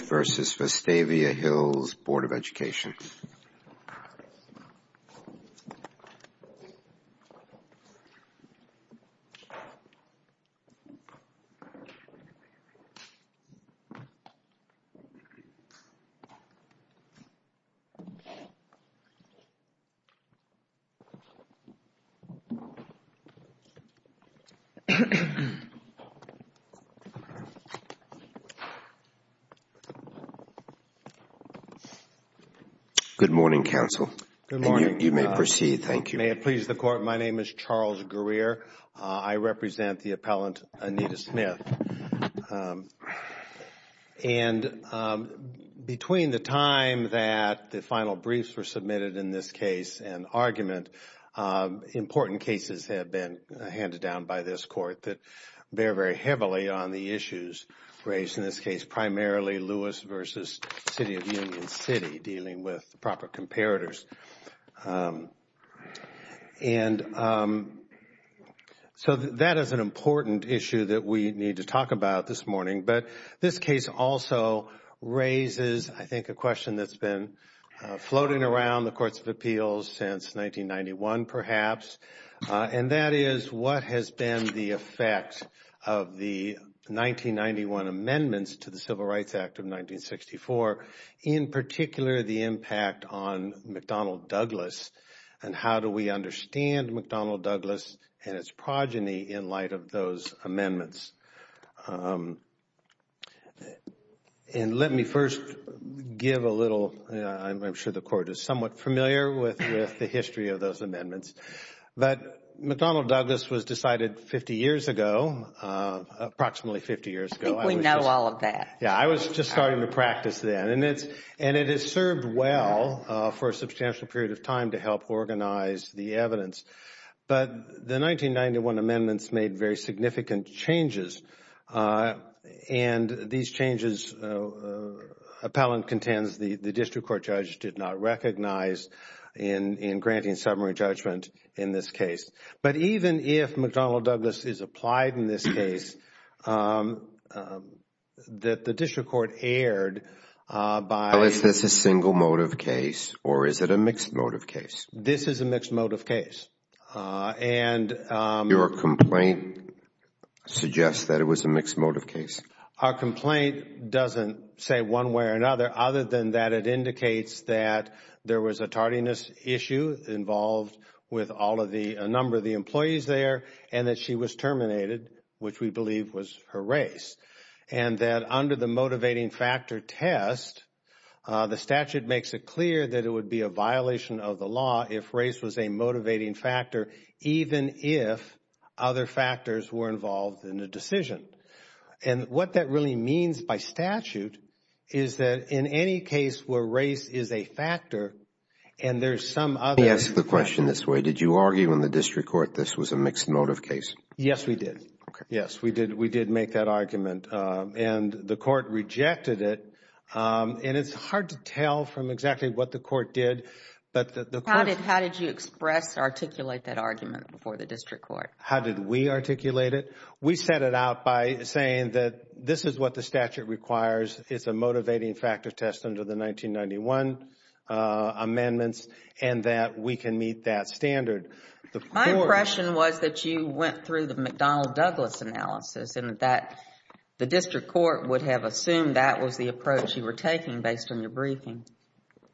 v. Vestavia Hills Board of Education Good morning, counsel. Good morning. You may proceed. Thank you. May it please the court, my name is Charles Greer. I represent the appellant Anita Smith. And between the time that the final briefs were submitted in this case and argument, important cases have been handed down by this court that bear very heavily on the issues raised in this case, primarily Lewis v. City of Union City dealing with the proper comparators. And so that is an important issue that we need to talk about this morning, but this case also raises, I think, a question that's been floating around the courts of appeals since 1991, perhaps. And that is what has been the effect of the 1991 amendments to the Civil Rights Act of 1964, in particular the impact on McDonnell Douglas and how do we understand McDonnell Douglas and its progeny in light of those amendments. And let me first give a little, I'm sure the court is somewhat familiar with the history of those amendments, but McDonnell Douglas was decided 50 years ago, approximately 50 years ago. I think we know all of that. Yeah, I was just starting to practice then and it has served well for a substantial period of time to help organize the evidence. But the 1991 amendments made very significant changes and these changes, appellant contends, the district court judge did not recognize in granting summary judgment in this case. But even if McDonnell Douglas is applied in this case, that the district court erred by... Well, is this a single motive case or is it a mixed motive case? This is a mixed motive case. And... Your complaint suggests that it was a mixed motive case? Our complaint doesn't say one way or another other than that it indicates that there was a tardiness issue involved with a number of the employees there and that she was terminated, which we believe was her race. And that under the motivating factor test, the statute makes it clear that it would be a violation of the law if race was a motivating factor, even if other factors were involved in the decision. And what that really means by statute is that in any case where race is a factor and there's some other... Let me ask the question this way, did you argue in the district court this was a mixed motive case? Yes, we did. Okay. Yes, we did. We did make that argument. And the court rejected it and it's hard to tell from exactly what the court did, but... How did you express, articulate that argument before the district court? How did we articulate it? We set it out by saying that this is what the statute requires, it's a motivating factor test under the 1991 amendments and that we can meet that standard. The court... My impression was that you went through the McDonnell-Douglas analysis and that the district court would have assumed that was the approach you were taking based on your briefing.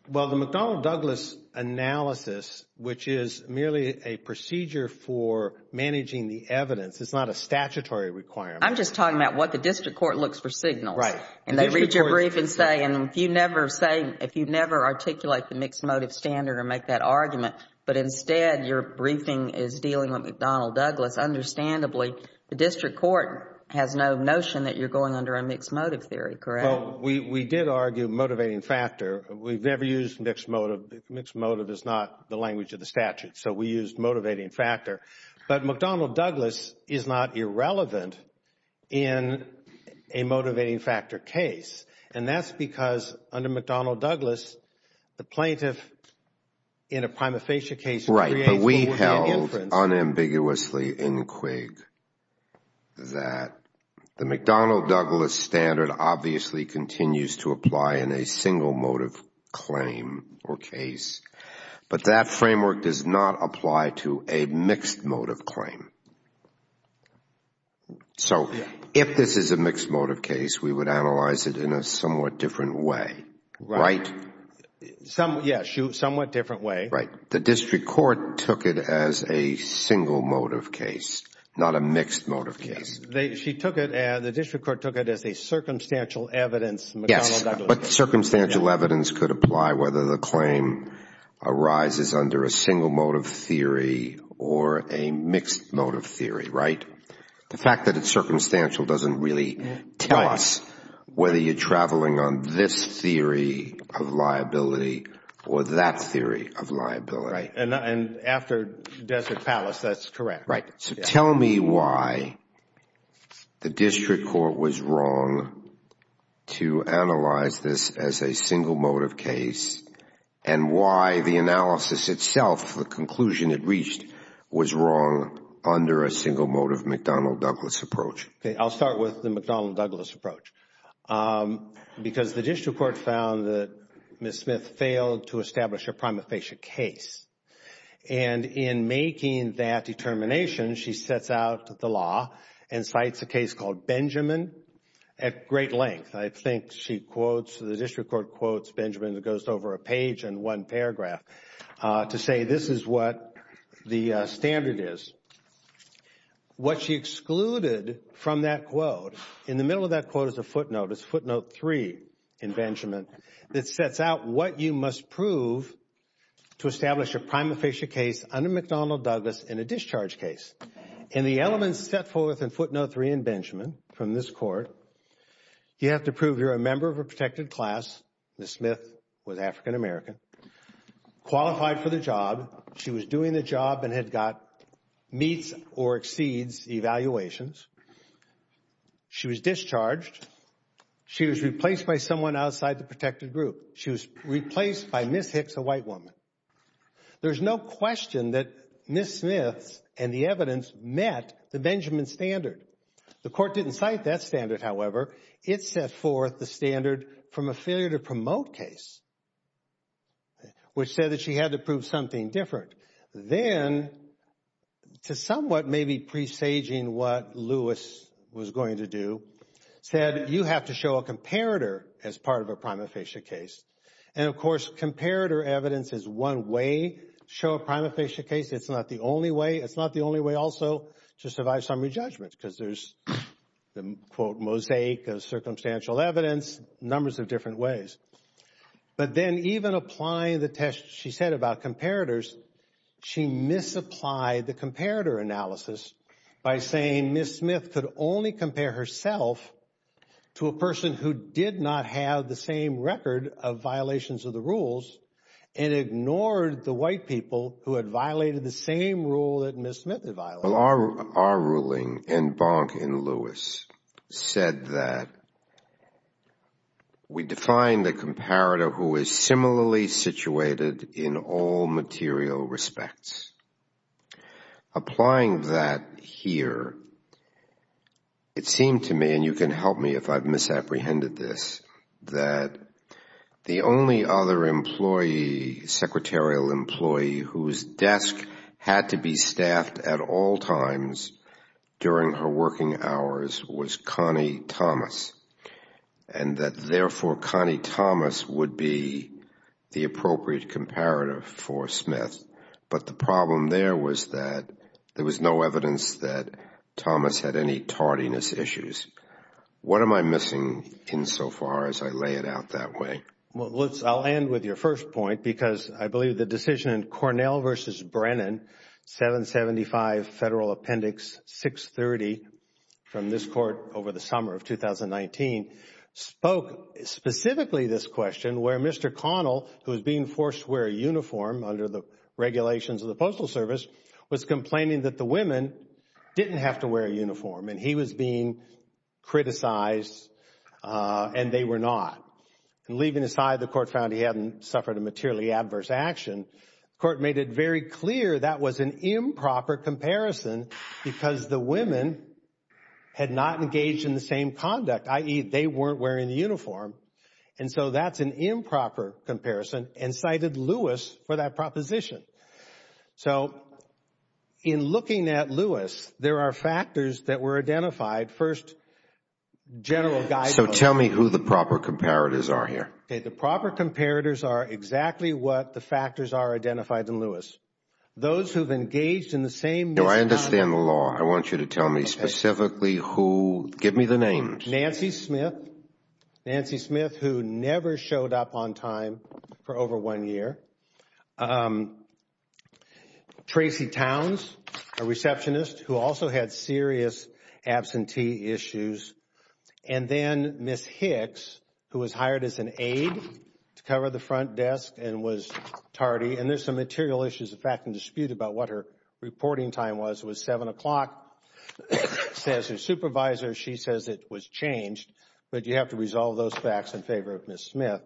Well, the McDonnell-Douglas analysis, which is merely a procedure for managing the evidence, is not a statutory requirement. I'm just talking about what the district court looks for signals. Right. And they read your brief and say, and if you never articulate the mixed motive standard or make that argument, but instead your briefing is dealing with McDonnell-Douglas, understandably the district court has no notion that you're going under a mixed motive theory, correct? Well, we did argue motivating factor. We've never used mixed motive. Mixed motive is not the language of the statute, so we used motivating factor. But McDonnell-Douglas is not irrelevant in a motivating factor case. And that's because under McDonnell-Douglas, the plaintiff in a prima facie case... Right, but we held unambiguously in Quigg that the McDonnell-Douglas standard obviously continues to apply in a single motive claim or case. But that framework does not apply to a mixed motive claim. So if this is a mixed motive case, we would analyze it in a somewhat different way, right? Yes, somewhat different way. Right. The district court took it as a single motive case, not a mixed motive case. She took it, the district court took it as a circumstantial evidence McDonnell-Douglas. But circumstantial evidence could apply whether the claim arises under a single motive theory or a mixed motive theory, right? The fact that it's circumstantial doesn't really tell us whether you're traveling on this theory of liability or that theory of liability. And after Desert Palace, that's correct. Right. So tell me why the district court was wrong to analyze this as a single motive case and why the analysis itself, the conclusion it reached, was wrong under a single motive McDonnell-Douglas approach. Okay, I'll start with the McDonnell-Douglas approach. Because the district court found that Ms. Smith failed to establish a prima facie case. And in making that determination, she sets out the law and cites a case called Benjamin at great length. I think she quotes, the district court quotes Benjamin, it goes over a page and one paragraph, to say this is what the standard is. What she excluded from that quote, in the middle of that quote is a footnote, it's footnote three in Benjamin, that sets out what you must prove to establish a prima facie case under McDonnell-Douglas in a discharge case. And the elements set forth in footnote three in Benjamin from this court, you have to prove you're a member of a protected class, Ms. Smith was African American, qualified for the job, she was doing the job and had got meets or exceeds evaluations, she was discharged, she was replaced by someone outside the protected group, she was replaced by Ms. Hicks, a white woman. There's no question that Ms. Smith and the evidence met the Benjamin standard. The court didn't cite that standard, however, it set forth the standard from a failure to promote case, which said that she had to prove something different. Then, to somewhat maybe presaging what Lewis was going to do, said you have to show a comparator as part of a prima facie case. And of course, comparator evidence is one way to show a prima facie case, it's not the only way, it's not the only way also to survive summary judgments, because there's the quote mosaic of circumstantial evidence, numbers of different ways. But then even applying the test she said about comparators, she misapplied the comparator analysis by saying Ms. Smith could only compare herself to a person who did not have the same record of violations of the rules and ignored the white people who had violated the same Our ruling in Bonk v. Lewis said that we define the comparator who is similarly situated in all material respects. Applying that here, it seemed to me, and you can help me if I've misapprehended this, that the only other secretarial employee whose desk had to be staffed at all times during her working hours was Connie Thomas, and that therefore Connie Thomas would be the appropriate comparator for Smith. But the problem there was that there was no evidence that Thomas had any tardiness issues. What am I missing insofar as I lay it out that way? Well, I'll end with your first point, because I believe the decision in Cornell v. Brennan, 775 Federal Appendix 630, from this court over the summer of 2019, spoke specifically this question where Mr. Connell, who was being forced to wear a uniform under the regulations of the Postal Service, was complaining that the women didn't have to wear a uniform and he was being criticized and they were not. And leaving aside the court found he hadn't suffered a materially adverse action, the court made it very clear that was an improper comparison because the women had not engaged in the same conduct, i.e., they weren't wearing the uniform. And so that's an improper comparison and cited Lewis for that proposition. So in looking at Lewis, there are factors that were identified. First, general guidelines. So tell me who the proper comparators are here. The proper comparators are exactly what the factors are identified in Lewis. Those who have engaged in the same misconduct. No, I understand the law. I want you to tell me specifically who, give me the names. Nancy Smith, who never showed up on time for over one year. Tracy Towns, a receptionist who also had serious absentee issues. And then Ms. Hicks, who was hired as an aide to cover the front desk and was tardy. And there's some material issues, in fact, in dispute about what her reporting time was. It was 7 o'clock, says her supervisor. She says it was changed. But you have to resolve those facts in favor of Ms. Smith.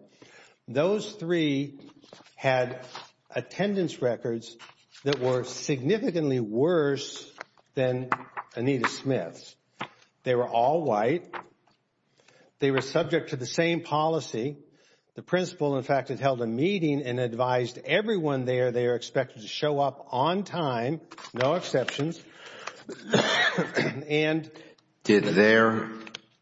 Those three had attendance records that were significantly worse than Anita Smith's. They were all white. They were subject to the same policy. The principal, in fact, had held a meeting and advised everyone there they are expected to show up on time, no exceptions. And did their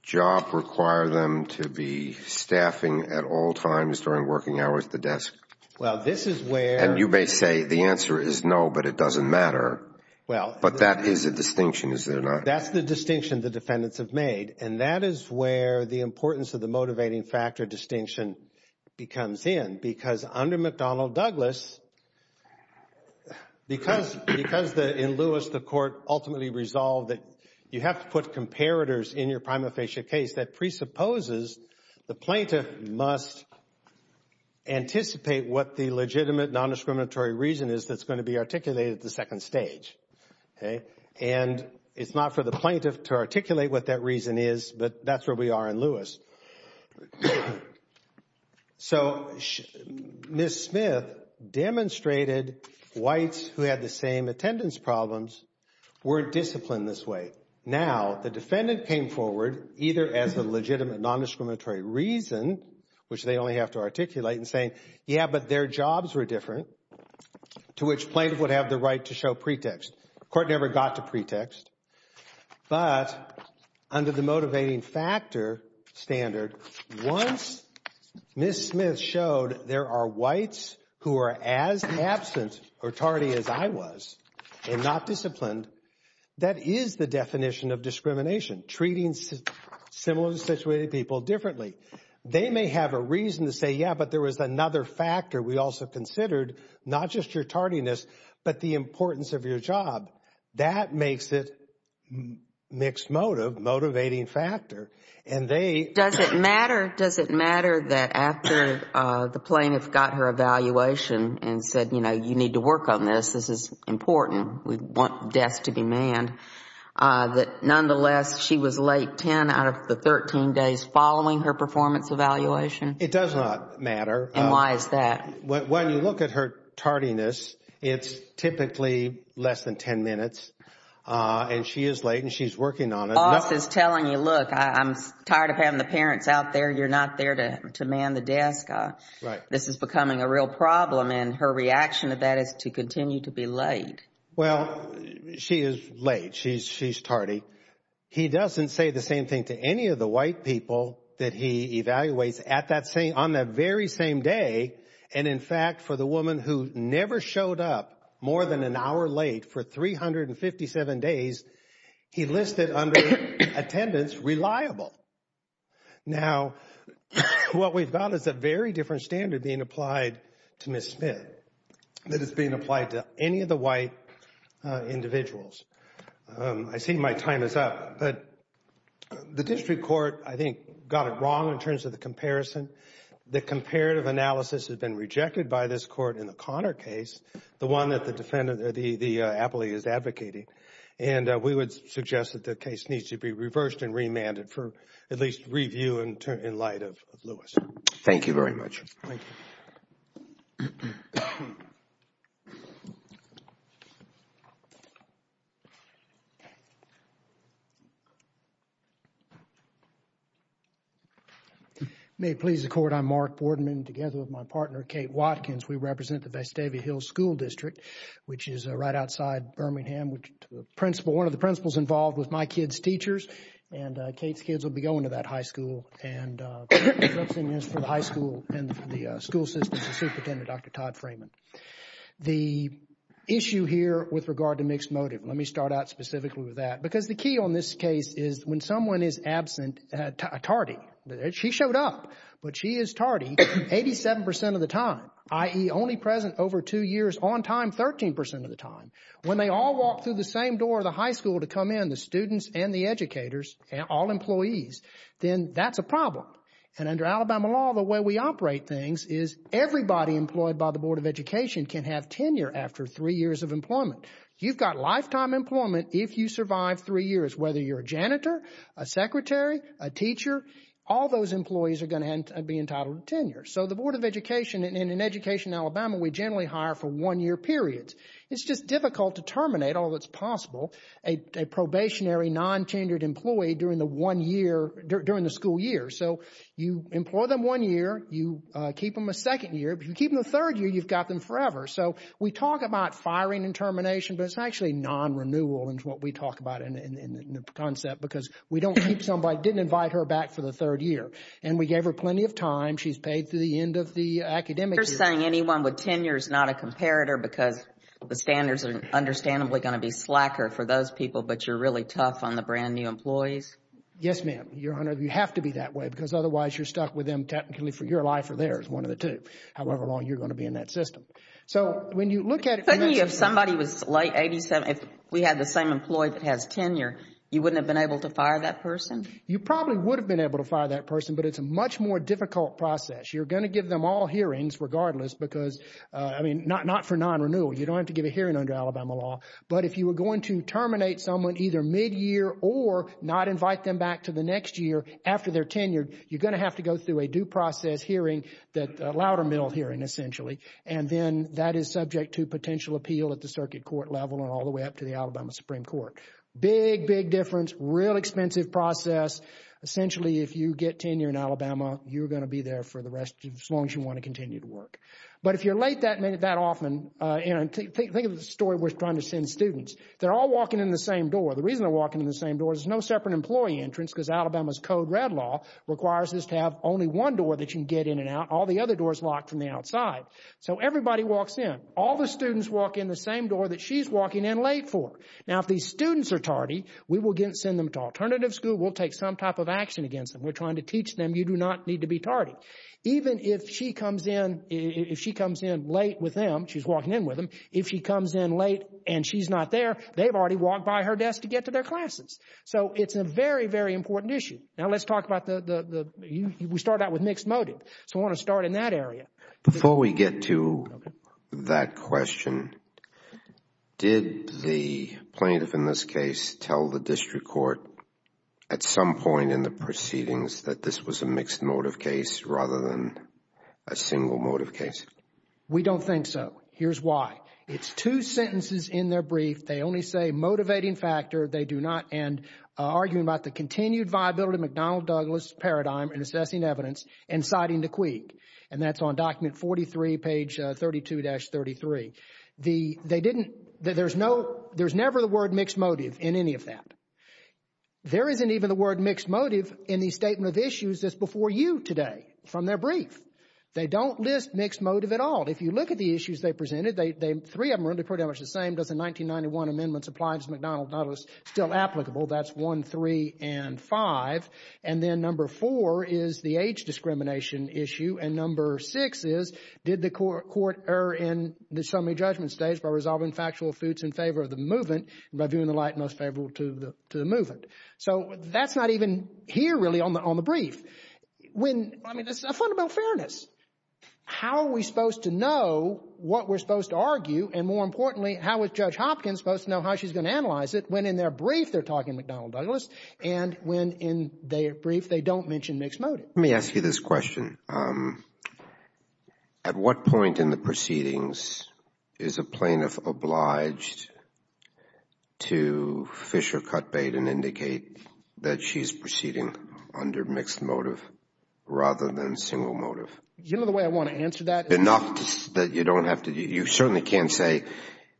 job require them to be staffing at all times during working hours at the desk? Well, this is where. And you may say the answer is no, but it doesn't matter. Well, but that is a distinction, is there not? That's the distinction the defendants have made. And that is where the importance of the motivating factor distinction becomes in. Because under McDonnell Douglas, because in Lewis the court ultimately resolved that you have to put comparators in your prima facie case, that presupposes the plaintiff must anticipate what the legitimate non-discriminatory reason is that's going to be articulated at the second stage. And it's not for the plaintiff to articulate what that reason is, but that's where we are in Lewis. So Ms. Smith demonstrated whites who had the same attendance problems were disciplined this way. Now, the defendant came forward either as a legitimate non-discriminatory reason, which they only have to articulate and saying, yeah, but their jobs were different, to which plaintiff would have the right to show pretext. Court never got to pretext. But under the motivating factor standard, once Ms. Smith showed there are whites who are as absent or tardy as I was and not disciplined, that is the definition of discrimination, treating similarly situated people differently. They may have a reason to say, yeah, but there was another factor we also considered, not just your tardiness, but the importance of your job. That makes it mixed motive, motivating factor. And they Does it matter, does it matter that after the plaintiff got her evaluation and said, you know, you need to work on this, this is important, we want deaths to be manned, that nonetheless she was late 10 out of the 13 days following her performance evaluation? It does not matter. And why is that? When you look at her tardiness, it's typically less than 10 minutes. And she is late and she's working on it. Boss is telling you, look, I'm tired of having the parents out there. You're not there to man the desk. This is becoming a real problem. And her reaction to that is to continue to be late. Well, she is late. She's tardy. He doesn't say the same thing to any of the white people that he evaluates on that very same day. And in fact, for the woman who never showed up more than an hour late for 357 days, he listed under attendance reliable. Now, what we've got is a very different standard being applied to Miss Smith that is being applied to any of the white individuals. I see my time is up, but the district court, I think, got it wrong in terms of the comparison. The comparative analysis has been rejected by this court in the Connor case, the one that the defendant, the appellee is advocating. And we would suggest that the case needs to be reversed and remanded for at least review and in light of Lewis. Thank you very much. Thank you. May it please the court. I'm Mark Boardman together with my partner, Kate Watkins. We represent the Vestavia Hills School District, which is right outside Birmingham, which the principal, one of the principals involved with my kids' teachers and Kate's kids will be going to that high school. And representing us for the high school and the school system is the superintendent, Dr. Todd Freeman. The issue here with regard to mixed motive, let me start out specifically with that, because the key on this case is when someone is absent, tardy, she showed up, but she is tardy 87% of the time, i.e. only present over two years, on time 13% of the time. When they all walk through the same door of the high school to come in, the students and the educators, all employees, then that's a problem. And under Alabama law, the way we operate things is everybody employed by the Board of Education can have tenure after three years of employment. You've got lifetime employment if you survive three years, whether you're a janitor, a secretary, a teacher, all those employees are going to be entitled to tenure. So the Board of Education in an education in Alabama, we generally hire for one-year periods. It's just difficult to terminate, although it's possible, a probationary non-tenured employee during the one year, during the school year. So you employ them one year, you keep them a second year. If you keep them a third year, you've got them forever. So we talk about firing and termination, but it's actually non-renewal is what we talk about in the concept, because we don't keep somebody, didn't invite her back for the third year. And we gave her plenty of time. She's paid through the end of the academic year. So you're saying anyone with tenure is not a comparator because the standards are understandably going to be slacker for those people, but you're really tough on the brand new employees? Yes, ma'am. Your Honor, you have to be that way because otherwise you're stuck with them technically for your life or theirs, one of the two, however long you're going to be in that system. So when you look at it... If somebody was late 87, if we had the same employee that has tenure, you wouldn't have been able to fire that person? You probably would have been able to fire that person, but it's a much more difficult process. You're going to give them all hearings regardless because... I mean, not for non-renewal. You don't have to give a hearing under Alabama law, but if you were going to terminate someone either mid-year or not invite them back to the next year after they're tenured, you're going to have to go through a due process hearing, a louder mill hearing essentially, and then that is subject to potential appeal at the circuit court level and all the way up to the Alabama Supreme Court. Big, big difference, real expensive process. Essentially, if you get tenure in Alabama, you're going to be there for the rest of... as long as you want to continue to work. But if you're late that often, think of the story we're trying to send students. They're all walking in the same door. The reason they're walking in the same door is there's no separate employee entrance because Alabama's code red law requires us to have only one door that you can get in and out. All the other doors are locked from the outside. So everybody walks in. All the students walk in the same door that she's walking in late for. Now, if these students are tardy, we will send them to alternative school. We'll take some type of action against them. We're trying to teach them you do not need to be tardy. Even if she comes in, if she comes in late with them, she's walking in with them, if she comes in late and she's not there, they've already walked by her desk to get to their classes. So it's a very, very important issue. Now, let's talk about the... we started out with mixed motive. So I want to start in that area. Before we get to that question, did the plaintiff in this case tell the district court at some point in the proceedings that this was a mixed motive case rather than a single motive case? We don't think so. Here's why. It's two sentences in their brief. They only say motivating factor. They do not end arguing about the continued viability of McDonnell Douglas' paradigm in assessing evidence and citing the quid. And that's on document 43, page 32-33. The... they didn't... there's no... there's never the word mixed motive in any of that. There isn't even the word mixed motive in the statement of issues that's before you today from their brief. They don't list mixed motive at all. If you look at the issues they presented, they... three of them are really pretty much the same. Does the 1991 amendments apply to McDonnell Douglas? Still applicable. That's one, three, and five. And then number four is the age discrimination issue. And number six is did the court err in the summary judgment stage by resolving factual suits in favor of the movement by viewing the light most favorable to the movement? So that's not even here really on the brief. When... I mean, this is a fundamental fairness. How are we supposed to know what we're supposed to argue? And more importantly, how is Judge Hopkins supposed to know how she's going to analyze it when in their brief they're talking McDonnell Douglas? And when in their brief they don't mention mixed motive? Let me ask you this question. At what point in the proceedings is a plaintiff obliged to fish or cut bait and indicate that she's proceeding under mixed motive rather than single motive? Do you know the way I want to answer that? Enough that you don't have to. You certainly can't say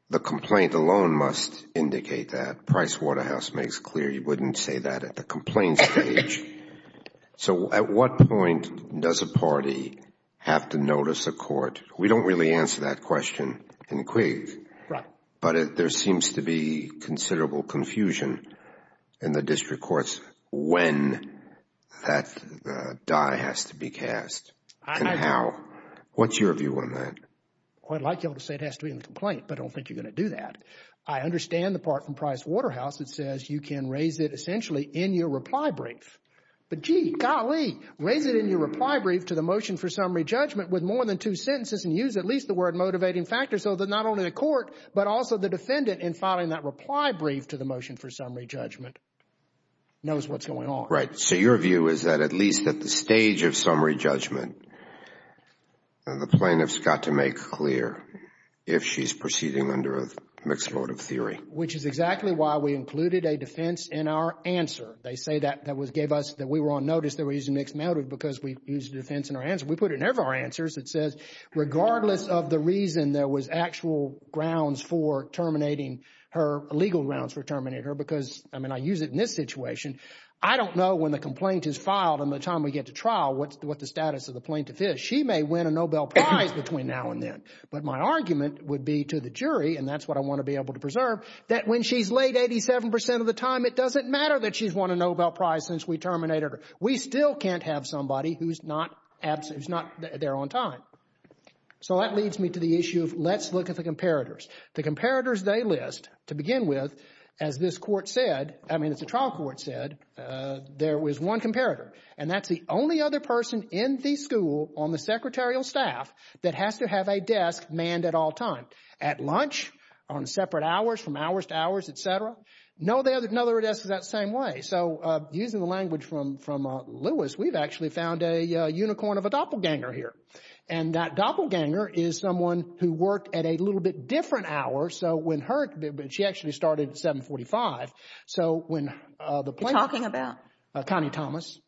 the complaint alone must indicate that. Price-Waterhouse makes clear you wouldn't say that at the complaint stage. So at what point does a party have to notice a court? We don't really answer that question in Quigg. But there seems to be considerable confusion in the district courts when that die has to be cast and how. What's your view on that? Well, I'd like you all to say it has to be in the complaint, but I don't think you're going to do that. I understand the part from Price-Waterhouse that says you can raise it essentially in your reply brief. But gee, golly, raise it in your reply brief to the motion for summary judgment with more than two sentences and use at least the word motivating factor so that not only the court but also the defendant in filing that reply brief to the motion for summary judgment knows what's going on. Right. So your view is that at least at the stage of summary judgment, the plaintiff's got to make clear if she's proceeding under a mixed motive theory. Which is exactly why we included a defense in our answer. They say that that gave us that we were on notice that we were using mixed motive because we used defense in our answer. We put it in every of our answers. It says regardless of the reason there was actual grounds for terminating her, legal grounds for terminating her, because I mean, I use it in this situation. I don't know when the complaint is filed and the time we get to trial what the status of the plaintiff is. She may win a Nobel Prize between now and then. But my argument would be to the jury, and that's what I want to be able to preserve, that when she's late 87% of the time, it doesn't matter that she's won a Nobel Prize since we terminated her. We still can't have somebody who's not there on time. So that leads me to the issue of let's look at the comparators. The comparators they list, to begin with, as this court said, I mean, as the trial court said, there was one comparator. And that's the only other person in the school, on the secretarial staff, that has to have a desk manned at all time. At lunch, on separate hours, from hours to hours, et cetera, no other desk is that same way. So using the language from Lewis, we've actually found a unicorn of a doppelganger here. And that doppelganger is someone who worked at a little bit different hour. So when her, she actually started at 745. So when the plaintiff- Talking about? Connie Thomas.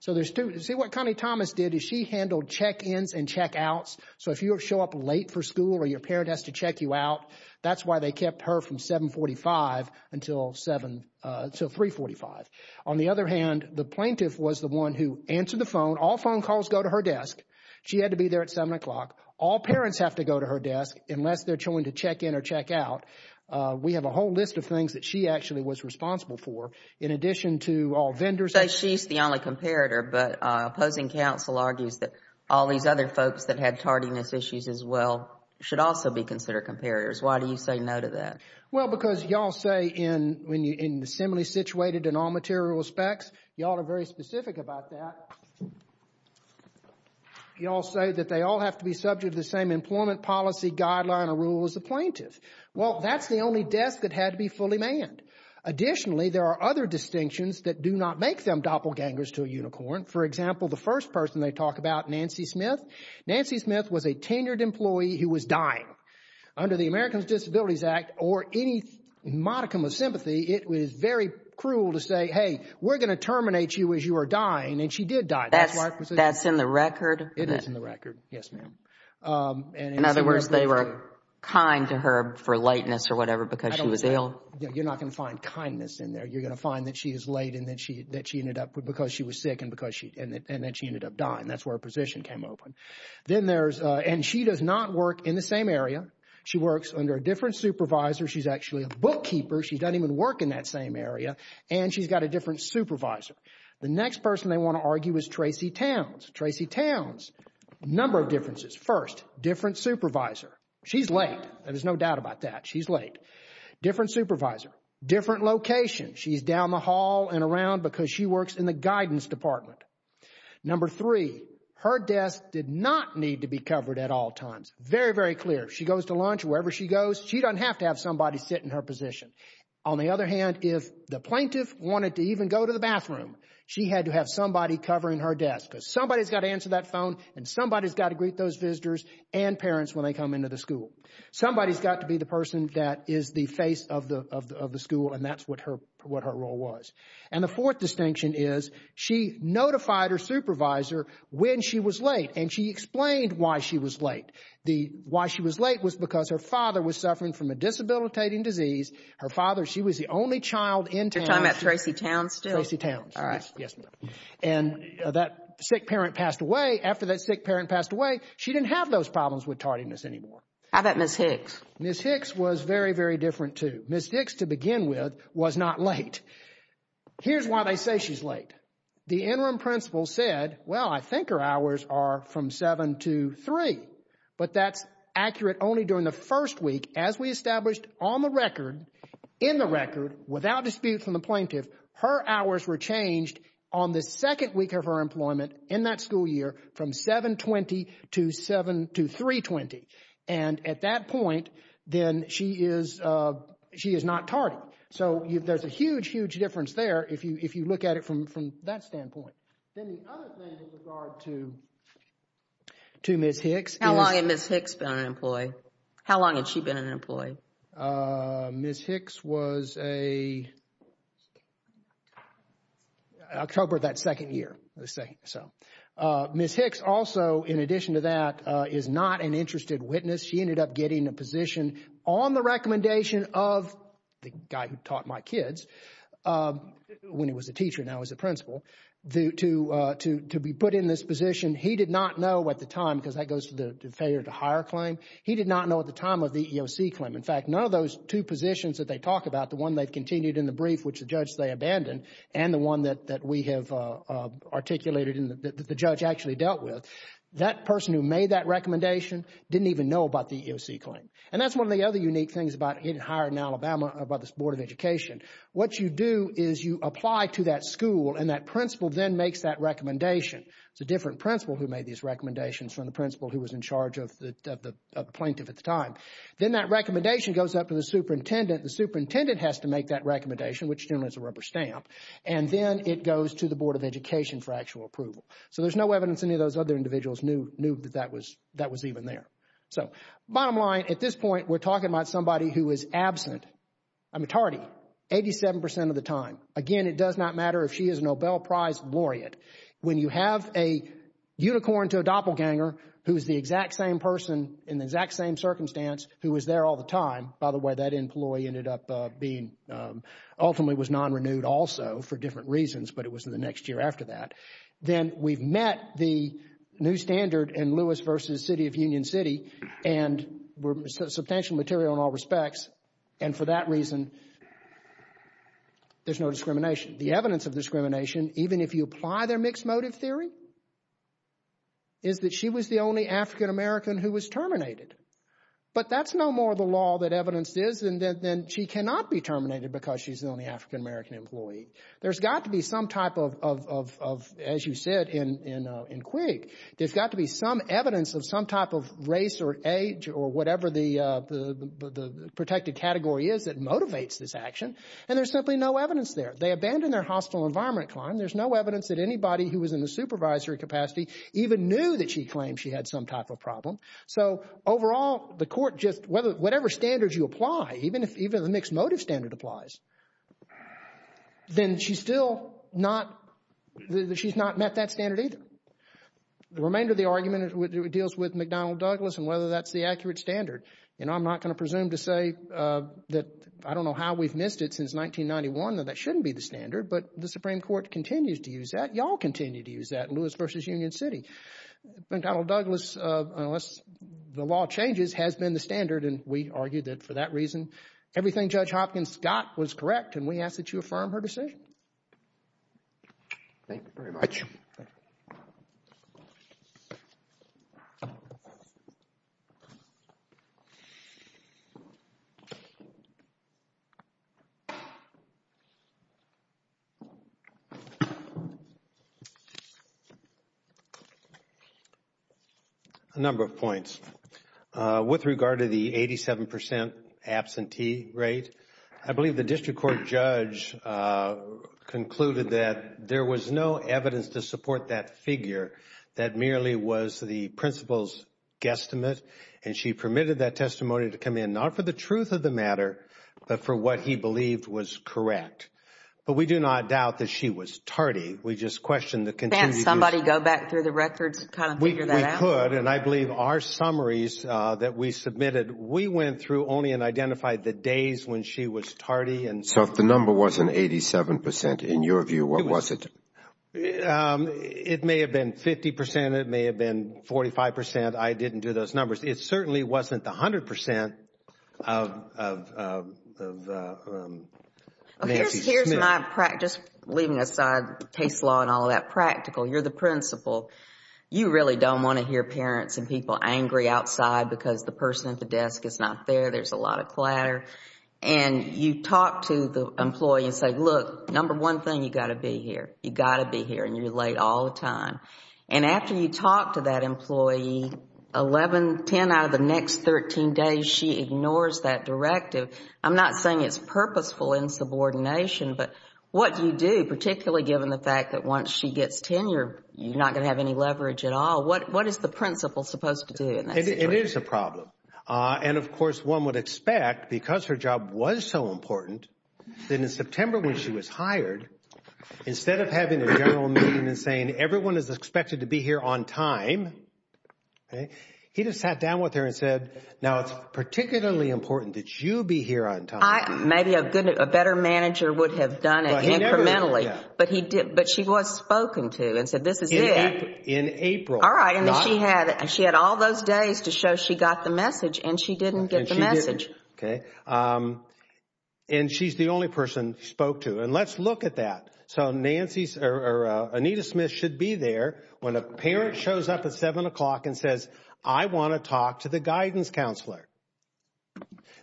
So there's two. See what Connie Thomas did is she handled check-ins and check-outs. So if you show up late for school or your parent has to check you out, that's why they kept her from 745 until 345. On the other hand, the plaintiff was the one who answered the phone. All phone calls go to her desk. She had to be there at 7 o'clock. All parents have to go to her desk unless they're showing to check in or check out. We have a whole list of things that she actually was responsible for, in addition to all vendors- You say she's the only comparator, but opposing counsel argues that all these other folks that had tardiness issues as well should also be considered comparators. Why do you say no to that? Well, because y'all say in, when you, in the assembly situated in all material aspects, y'all are very specific about that. Y'all say that they all have to be subject to the same employment policy guideline or rule as the plaintiff. Well, that's the only desk that had to be fully manned. Additionally, there are other distinctions that do not make them doppelgangers to a unicorn. For example, the first person they talk about, Nancy Smith. Nancy Smith was a tenured employee who was dying. Under the Americans with Disabilities Act or any modicum of sympathy, it was very cruel to say, hey, we're going to terminate you as you are dying. And she did die. That's in the record? It is in the record. Yes, ma'am. In other words, they were kind to her for lateness or whatever because she was ill? You're not going to find kindness in there. You're going to find that she is late and that she, that she ended up with, because she was sick and because she, and then she ended up dying. That's where her position came open. Then there's, and she does not work in the same area. She works under a different supervisor. She's actually a bookkeeper. She doesn't even work in that same area. And she's got a different supervisor. The next person they want to argue is Tracy Towns. Tracy Towns, number of differences. First, different supervisor. She's late. There's no doubt about that. She's late. Different supervisor, different location. She's down the hall and around because she works in the guidance department. Number three, her desk did not need to be covered at all times. Very, very clear. She goes to lunch, wherever she goes. She doesn't have to have somebody sit in her position. On the other hand, if the plaintiff wanted to even go to the bathroom, she had to have somebody covering her desk because somebody has got to answer that phone and somebody has got to greet those visitors and parents when they come into the school. Somebody has got to be the person that is the face of the school. And that's what her role was. And the fourth distinction is she notified her supervisor when she was late. And she explained why she was late. Why she was late was because her father was suffering from a disabilitating disease. Her father, she was the only child in town. You're talking about Tracy Towns still? Tracy Towns. All right. Yes, ma'am. And that sick parent passed away. After that sick parent passed away, she didn't have those problems with tardiness anymore. How about Ms. Hicks? Ms. Hicks was very, very different too. Ms. Hicks, to begin with, was not late. Here's why they say she's late. The interim principal said, well, I think her hours are from 7 to 3. But that's accurate only during the first week as we established on the record, in the record, without dispute from the plaintiff, her hours were changed on the second week of her employment in that school year from 7-20 to 7-3-20. And at that point, then she is, she is not tardy. So there's a huge, huge difference there if you look at it from that standpoint. Then the other thing in regard to Ms. Hicks. How long had Ms. Hicks been an employee? How long had she been an employee? Ms. Hicks was a, October of that second year, let's say. So Ms. Hicks also, in addition to that, is not an interested witness. She ended up getting a position on the recommendation of the guy who taught my kids, when he was a teacher, now he's a principal, to be put in this position. He did not know at the time, because that goes to the failure to hire claim. He did not know at the time of the EEOC claim. In fact, none of those two positions that they talk about, the one they've continued in the brief, which the judge, they abandoned, and the one that we have articulated and that the judge actually dealt with, that person who made that recommendation didn't even know about the EEOC claim. And that's one of the other unique things about getting hired in Alabama by this Board of Education. What you do is you apply to that school and that principal then makes that recommendation. It's a different principal who made these recommendations from the principal who was in charge of the plaintiff at the time. Then that recommendation goes up to the superintendent. The superintendent has to make that recommendation, which generally is a rubber stamp. And then it goes to the Board of Education for actual approval. So there's no evidence any of those other individuals knew that that was even there. So, bottom line, at this point, we're talking about somebody who is absent a majority, 87% of the time. Again, it does not matter if she is a Nobel Prize laureate. When you have a unicorn to a doppelganger who is the exact same person in the exact same circumstance who was there all the time, by the way, that employee ended up being ultimately was non-renewed also for different reasons, but it was in the next year after that. Then we've met the new standard in Lewis v. City of Union City and we're substantial material in all respects. And for that reason, there's no discrimination. The evidence of discrimination, even if you apply their mixed motive theory, is that she was the only African-American who was terminated. But that's no more the law that evidence is than she cannot be terminated because she's the only African-American employee. There's got to be some type of, as you said in Quigg, there's got to be some evidence of some type of race or age or whatever the protected category is that motivates this action, and there's simply no evidence there. They abandoned their hostile environment claim. There's no evidence that anybody who was in the supervisory capacity even knew that she claimed she had some type of problem. So overall, the court just, whatever standards you apply, even if the mixed motive standard applies, then she's still not, she's not met that standard either. The remainder of the argument deals with McDonnell Douglas and whether that's the accurate standard. And I'm not going to presume to say that, I don't know how we've missed it since 1991 that that shouldn't be the standard, but the Supreme Court continues to use that. Y'all continue to use that in Lewis v. Union City. McDonnell Douglas, unless the law changes, has been the standard, and we argue that for that reason, everything Judge Hopkins got was correct, and we ask that you affirm her decision. Thank you very much. A number of points. With regard to the 87 percent absentee rate, I believe the district court judge concluded that there was no evidence to support that figure. That merely was the principal's guesstimate, and she permitted that testimony to come in not for the truth of the matter, but for what he believed was correct. But we do not doubt that she was tardy. We just question the continuity. Can't somebody go back through the records, kind of figure that out? We could, and I believe our summaries that we submitted, we went through only and identified the days when she was tardy. And so if the number wasn't 87 percent, in your view, what was it? It may have been 50 percent. It may have been 45 percent. I didn't do those numbers. It certainly wasn't the 100 percent of Nancy Smith. Here's my practice, leaving aside case law and all that practical. You're the principal. You really don't want to hear parents and people angry outside because the person at the desk is not there. There's a lot of clatter. And you talk to the employee and say, look, number one thing, you've got to be here. You've got to be here, and you're late all the time. And after you talk to that employee, 11, 10 out of the next 13 days, she ignores that directive. I'm not saying it's purposeful insubordination, but what you do, particularly given the fact that once she gets tenure, you're not going to have any leverage at all, what is the principal supposed to do in that situation? It is a problem. And of course, one would expect, because her job was so important, that in September when she was hired, instead of having a general meeting and saying everyone is expected to be here on time, he just sat down with her and said, now it's particularly important that you be here on time. Maybe a better manager would have done it incrementally, but she was spoken to and said, this is it. In April. All right, and she had all those days to show she got the message, and she didn't get the message. Okay, and she's the only person spoke to. And let's look at that. So Nancy's or Anita Smith should be there when a parent shows up at 7 o'clock and says, I want to talk to the guidance counselor.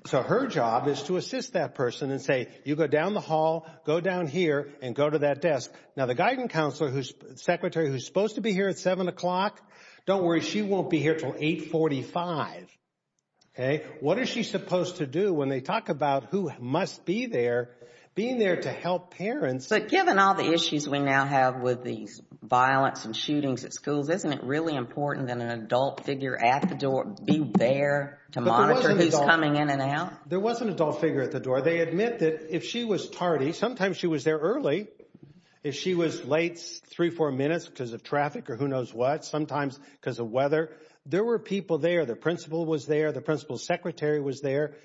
So her job is to assist that person and say, you go down the hall, go down here and go to that desk. Now, the guidance counselor whose secretary who's supposed to be here at 7 o'clock, don't worry, she won't be here till 845. Okay, what is she supposed to do when they talk about who must be there, being there to help parents? But given all the issues we now have with these violence and shootings at schools, isn't it really important that an adult figure at the door be there to monitor who's coming in and out? There was an adult figure at the door. They admit that if she was tardy, sometimes she was there early. If she was late three, four minutes because of traffic or who knows what, sometimes because of weather. There were people there. The principal was there. The principal's secretary was there.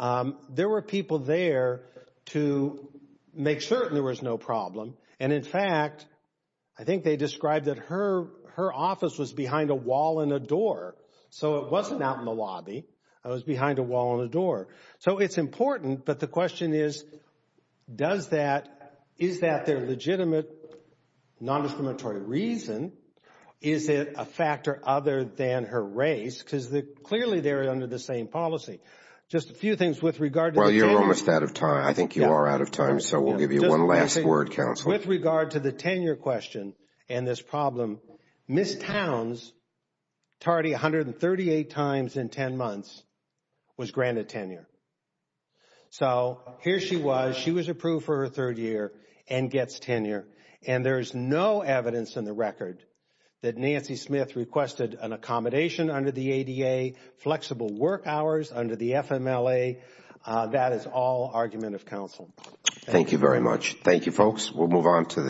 There were people there to make certain there was no problem. And in fact, I think they described that her office was behind a wall and a door. So it wasn't out in the lobby. It was behind a wall and a door. So it's important. But the question is, is that their legitimate, non-discriminatory reason? Is it a factor other than her race? Because clearly they're under the same policy. Just a few things with regard to tenure. Well, you're almost out of time. I think you are out of time. So we'll give you one last word, counsel. With regard to the tenure question and this problem, Miss Towns tardy 138 times in 10 months was granted tenure. So here she was. She was approved for her third year and gets tenure. And there's no evidence in the record that Nancy Smith requested an accommodation under the ADA, flexible work hours under the FMLA. That is all argument of counsel. Thank you very much. Thank you, folks. We'll move on to the